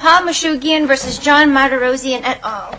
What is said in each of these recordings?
Paul Moushigian v. John Marderosian et al.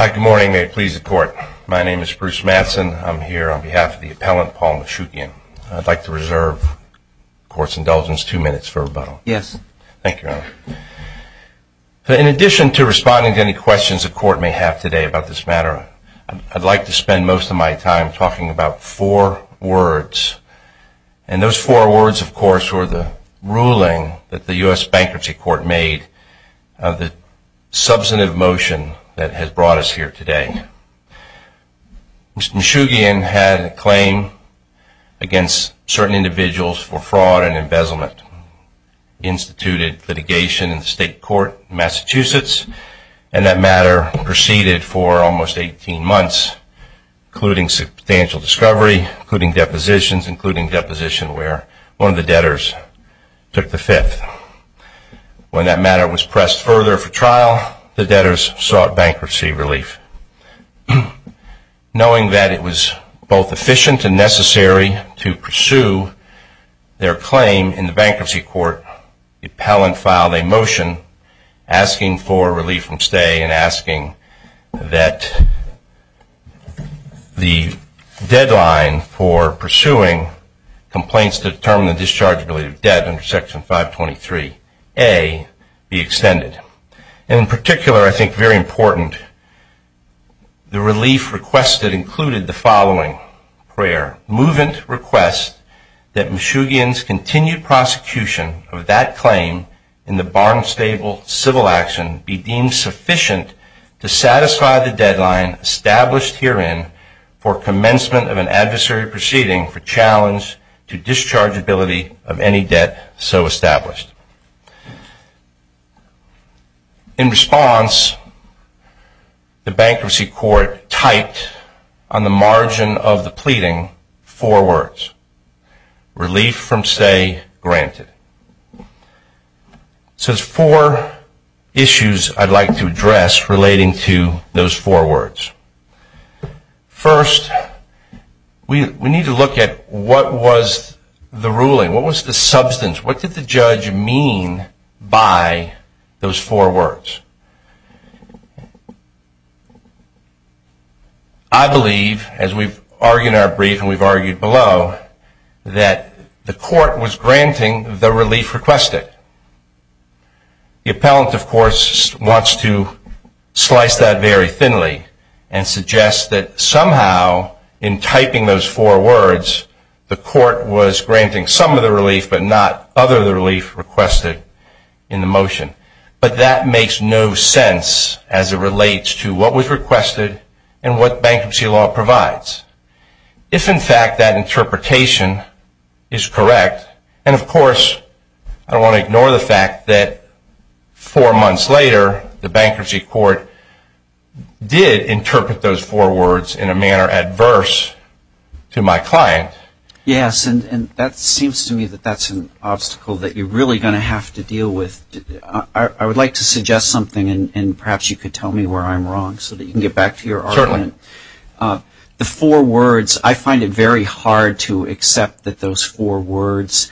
Hi, good morning. May it please the court. My name is Bruce Mattson. I'm here on behalf of the appellant Paul Moushigian. I'd like to reserve the court's indulgence two minutes for rebuttal. Yes. In addition to responding to any questions the court may have today about this matter, I'd like to spend most of my time talking about four words. And those four words, of course, were the ruling that the U.S. Bankruptcy Court made, the substantive motion that has brought us here today. Mr. Moushigian had a claim against certain individuals for fraud and embezzlement. He instituted litigation in the state court in Massachusetts. And that matter proceeded for almost 18 months, including substantial discovery, including depositions, including deposition where one of the debtors took the fifth. When that matter was pressed further for trial, the debtors sought bankruptcy relief. Knowing that it was both efficient and necessary to pursue their claim in the bankruptcy court, the appellant filed a motion asking for relief from stay and asking that the deadline for pursuing complaints to determine the discharge of related debt under Section 523A be extended. And in particular, I think very important, the relief requested included the following prayer. In response, the bankruptcy court typed on the margin of the pleading, Relief from stay granted. So there's four issues I'd like to address relating to those four words. First, we need to look at what was the ruling? What was the substance? What did the judge mean by those four words? I believe, as we've argued in our brief and we've argued below, that the court was granting the relief requested. The appellant, of course, wants to slice that very thinly and suggest that somehow in typing those four words, the court was granting some of the relief but not other of the relief requested in the motion. But that makes no sense as it relates to what was requested and what bankruptcy law provides. If, in fact, that interpretation is correct, and of course, I don't want to ignore the fact that four months later, the bankruptcy court did interpret those four words in a manner adverse to my client. Yes, and that seems to me that that's an obstacle that you're really going to have to deal with. I would like to suggest something, and perhaps you could tell me where I'm wrong so that you can get back to your argument. Certainly. The four words, I find it very hard to accept that those four words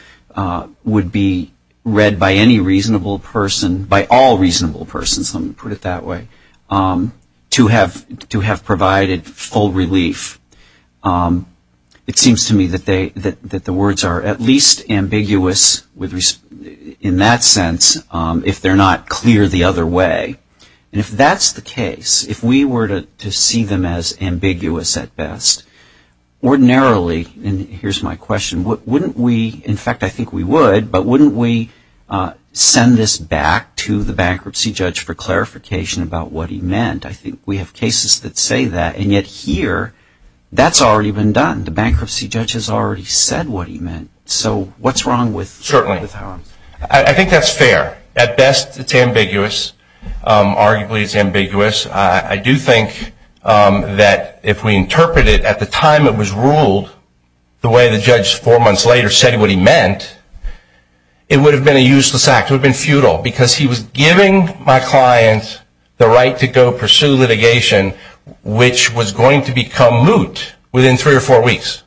would be read by any reasonable person, by all reasonable persons, let me put it that way, to have provided full relief. It seems to me that the words are at least ambiguous in that sense if they're not clear the other way. And if that's the case, if we were to see them as ambiguous at best, ordinarily, and here's my question, wouldn't we, in fact, I think we would, but wouldn't we send this back to the bankruptcy judge for clarification about what he meant? I think we have cases that say that, and yet here, that's already been done. The bankruptcy judge has already said what he meant. So what's wrong with that? Certainly. I think that's fair. At best, it's ambiguous. Arguably, it's ambiguous. I do think that if we interpret it at the time it was ruled the way the judge four months later said what he meant, it would have been a useless act. It would have been futile because he was giving my client the right to go pursue litigation, which was going to become moot within three or four weeks.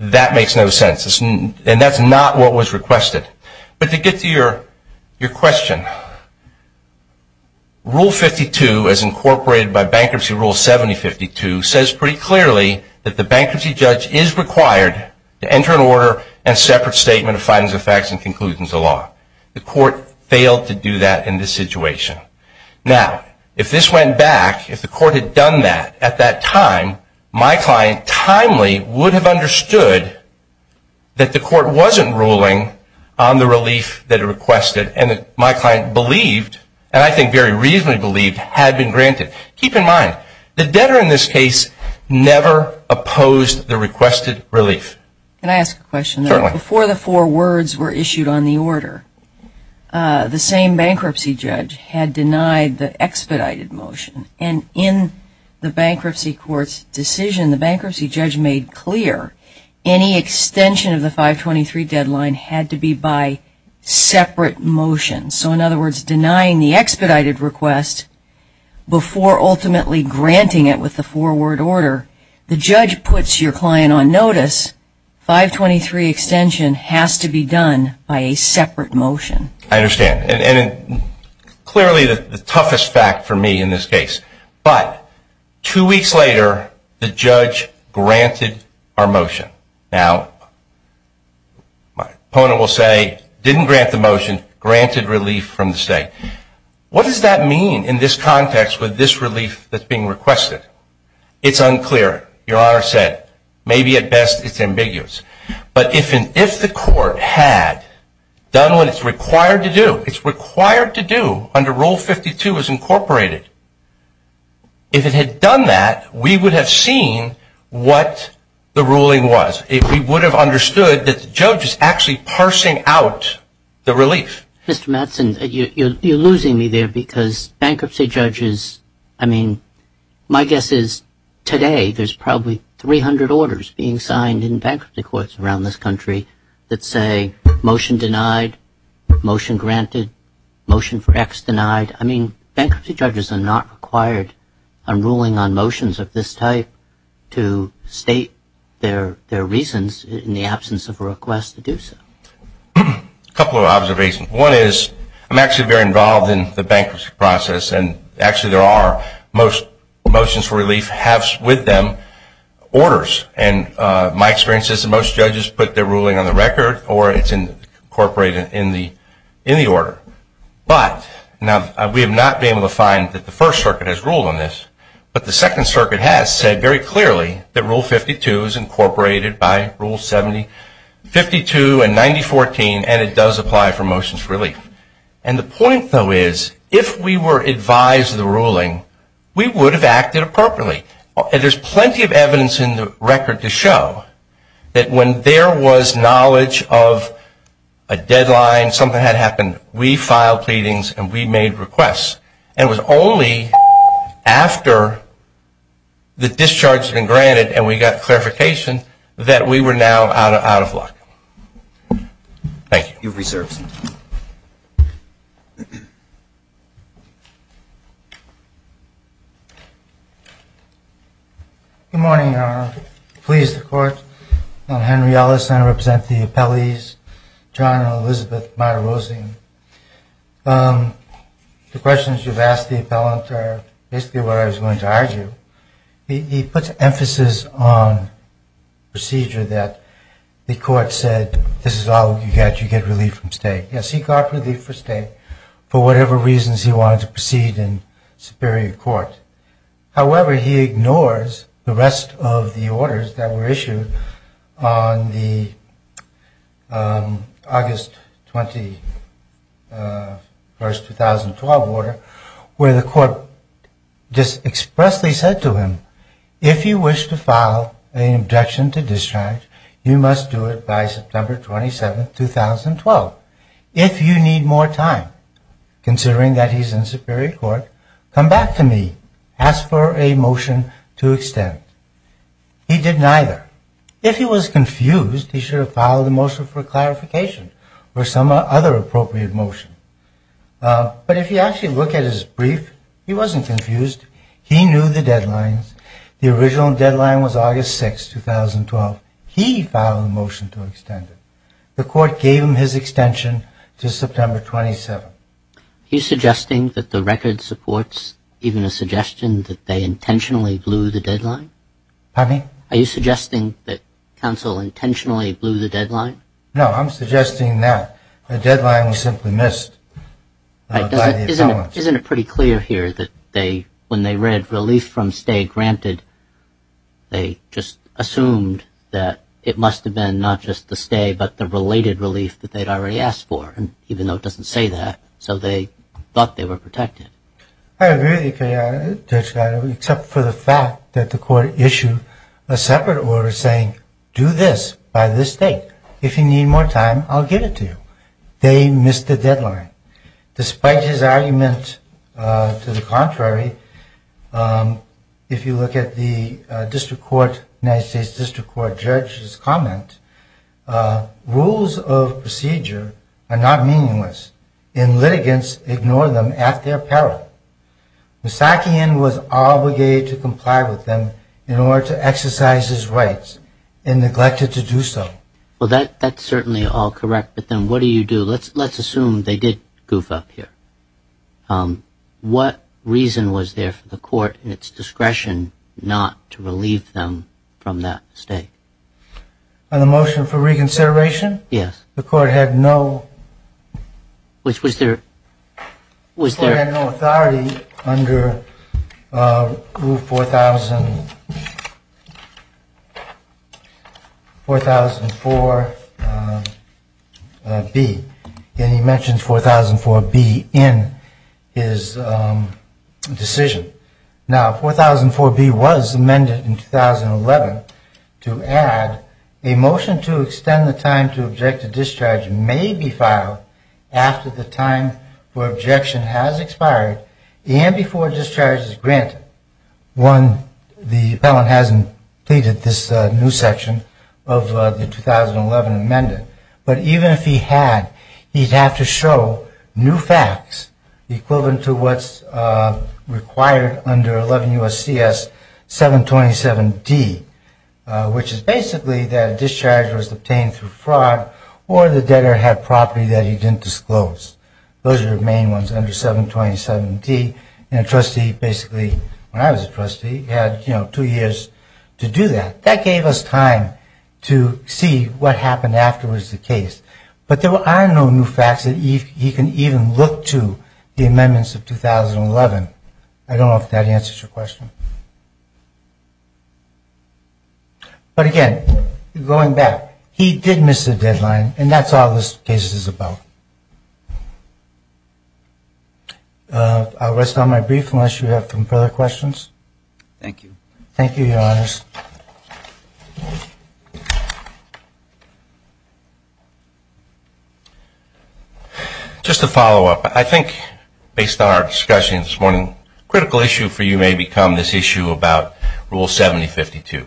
That makes no sense, and that's not what was requested. But to get to your question, Rule 52, as incorporated by Bankruptcy Rule 7052, says pretty clearly that the bankruptcy judge is required to enter an order and separate statement of findings of facts and conclusions of law. The court failed to do that in this situation. Now, if this went back, if the court had done that at that time, my client timely would have understood that the court wasn't ruling on the relief that it requested, and that my client believed, and I think very reasonably believed, had been granted. Keep in mind, the debtor in this case never opposed the requested relief. Can I ask a question? Certainly. Before the four words were issued on the order, the same bankruptcy judge had denied the expedited motion, and in the bankruptcy court's decision, the bankruptcy judge made clear any extension of the 523 deadline had to be by separate motion. So, in other words, denying the expedited request before ultimately granting it with the four-word order, the judge puts your client on notice, 523 extension has to be done by a separate motion. I understand. And clearly the toughest fact for me in this case. But two weeks later, the judge granted our motion. Now, my opponent will say, didn't grant the motion, granted relief from the state. What does that mean in this context with this relief that's being requested? It's unclear. Your Honor said, maybe at best it's ambiguous. But if the court had done what it's required to do, it's required to do under Rule 52 as incorporated, if it had done that, we would have seen what the ruling was. We would have understood that the judge is actually parsing out the relief. Mr. Mattson, you're losing me there because bankruptcy judges, I mean, my guess is today there's probably 300 orders being signed in bankruptcy courts around this country that say motion denied, motion granted, motion for X denied. I mean, bankruptcy judges are not required on ruling on motions of this type to state their reasons in the absence of a request to do so. A couple of observations. One is I'm actually very involved in the bankruptcy process, and actually there are most motions for relief have with them orders. And my experience is that most judges put their ruling on the record or it's incorporated in the order. But now we have not been able to find that the First Circuit has ruled on this, but the Second Circuit has said very clearly that Rule 52 is incorporated by Rule 72 and 9014, and it does apply for motions for relief. And the point, though, is if we were advised of the ruling, we would have acted appropriately. There's plenty of evidence in the record to show that when there was knowledge of a deadline, something had happened, we filed pleadings and we made requests, and it was only after the discharge had been granted and we got clarification that we were now out of luck. Thank you. You've reserved some time. Good morning, Your Honor. Please, the Court. I'm Henry Ellis, and I represent the appellees, John and Elizabeth Meyer-Rosling. The questions you've asked the appellant are basically what I was going to argue. He puts emphasis on procedure that the Court said, this is all you get. You get relief from state. Yes, he got relief from state for whatever reasons he wanted to proceed in superior court. However, he ignores the rest of the orders that were issued on the August 21, 2012 order, where the Court just expressly said to him, if you wish to file an objection to discharge, you must do it by September 27, 2012. If you need more time, considering that he's in superior court, come back to me. Ask for a motion to extend. He did neither. If he was confused, he should have filed a motion for clarification or some other appropriate motion. But if you actually look at his brief, he wasn't confused. He knew the deadlines. The original deadline was August 6, 2012. He filed a motion to extend it. The Court gave him his extension to September 27. Are you suggesting that the record supports even a suggestion that they intentionally blew the deadline? Pardon me? Are you suggesting that counsel intentionally blew the deadline? No, I'm suggesting that the deadline was simply missed by the appellant. Isn't it pretty clear here that when they read relief from state granted, they just assumed that it must have been not just the stay, but the related relief that they'd already asked for, even though it doesn't say that, so they thought they were protected. I agree with you, Judge Geisler, except for the fact that the Court issued a separate order saying, do this by this date. If you need more time, I'll give it to you. They missed the deadline. Despite his argument to the contrary, if you look at the United States District Court judge's comment, rules of procedure are not meaningless, and litigants ignore them at their peril. Misakien was obligated to comply with them in order to exercise his rights, and neglected to do so. Well, that's certainly all correct, but then what do you do? Let's assume they did goof up here. What reason was there for the Court in its discretion not to relieve them from that stay? On the motion for reconsideration? Yes. The Court had no authority under Rule 4004B, and he mentions 4004B in his decision. Now, 4004B was amended in 2011 to add, a motion to extend the time to object to discharge may be filed after the time for objection has expired and before discharge is granted. One, the appellant hasn't pleaded this new section of the 2011 amendment, but even if he had, he'd have to show new facts equivalent to what's required under 11 U.S.C.S. 727D, which is basically that a discharge was obtained through fraud or the debtor had property that he didn't disclose. Those are the main ones under 727D, and a trustee basically, when I was a trustee, had two years to do that. That gave us time to see what happened afterwards in the case, but there are no new facts that he can even look to the amendments of 2011. I don't know if that answers your question. But again, going back, he did miss a deadline, and that's all this case is about. I'll rest on my brief unless you have some further questions. Thank you. Thank you, Your Honors. Just a follow-up. I think based on our discussion this morning, a critical issue for you may become this issue about Rule 7052.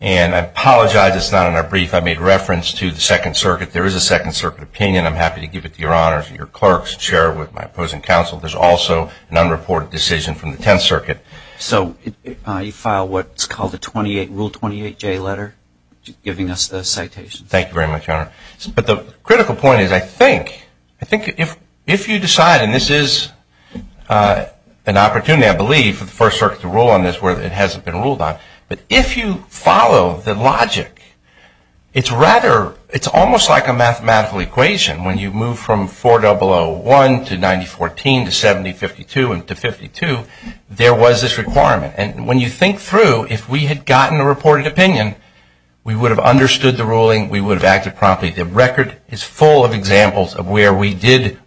And I apologize it's not in our brief. I made reference to the Second Circuit. There is a Second Circuit opinion. I'm happy to give it to Your Honors and your clerks and share it with my opposing counsel. There's also an unreported decision from the Tenth Circuit. So you file what's called the Rule 28J letter, giving us the citation. Thank you very much, Your Honor. But the critical point is I think if you decide, and this is an opportunity, I believe, for the First Circuit to rule on this, where it hasn't been ruled on, but if you follow the logic, it's almost like a mathematical equation. When you move from 4001 to 9014 to 7052 and to 52, there was this requirement. And when you think through, if we had gotten a reported opinion, we would have understood the ruling. We would have acted promptly. The record is full of examples of where we did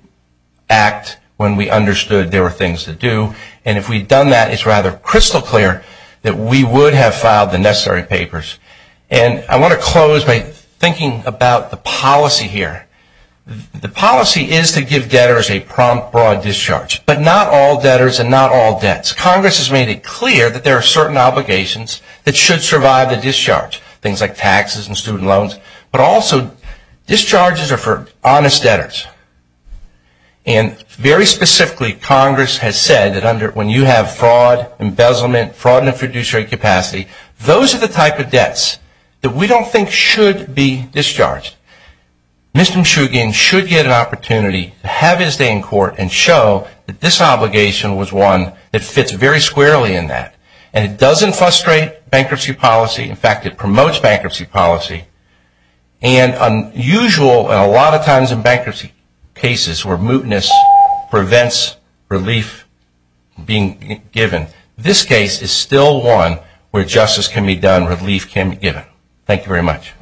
act when we understood there were things to do. And if we'd done that, it's rather crystal clear that we would have filed the necessary papers. And I want to close by thinking about the policy here. The policy is to give debtors a prompt, broad discharge, but not all debtors and not all debts. Congress has made it clear that there are certain obligations that should survive the discharge, things like taxes and student loans, but also discharges are for honest debtors. And very specifically, Congress has said that when you have fraud, embezzlement, fraud in a fiduciary capacity, those are the type of debts that we don't think should be discharged. Mr. Mshugin should get an opportunity to have his day in court and show that this obligation was one that fits very squarely in that. And it doesn't frustrate bankruptcy policy. In fact, it promotes bankruptcy policy. And unusual and a lot of times in bankruptcy cases where mootness prevents relief being given, this case is still one where justice can be done, relief can be given. Thank you very much.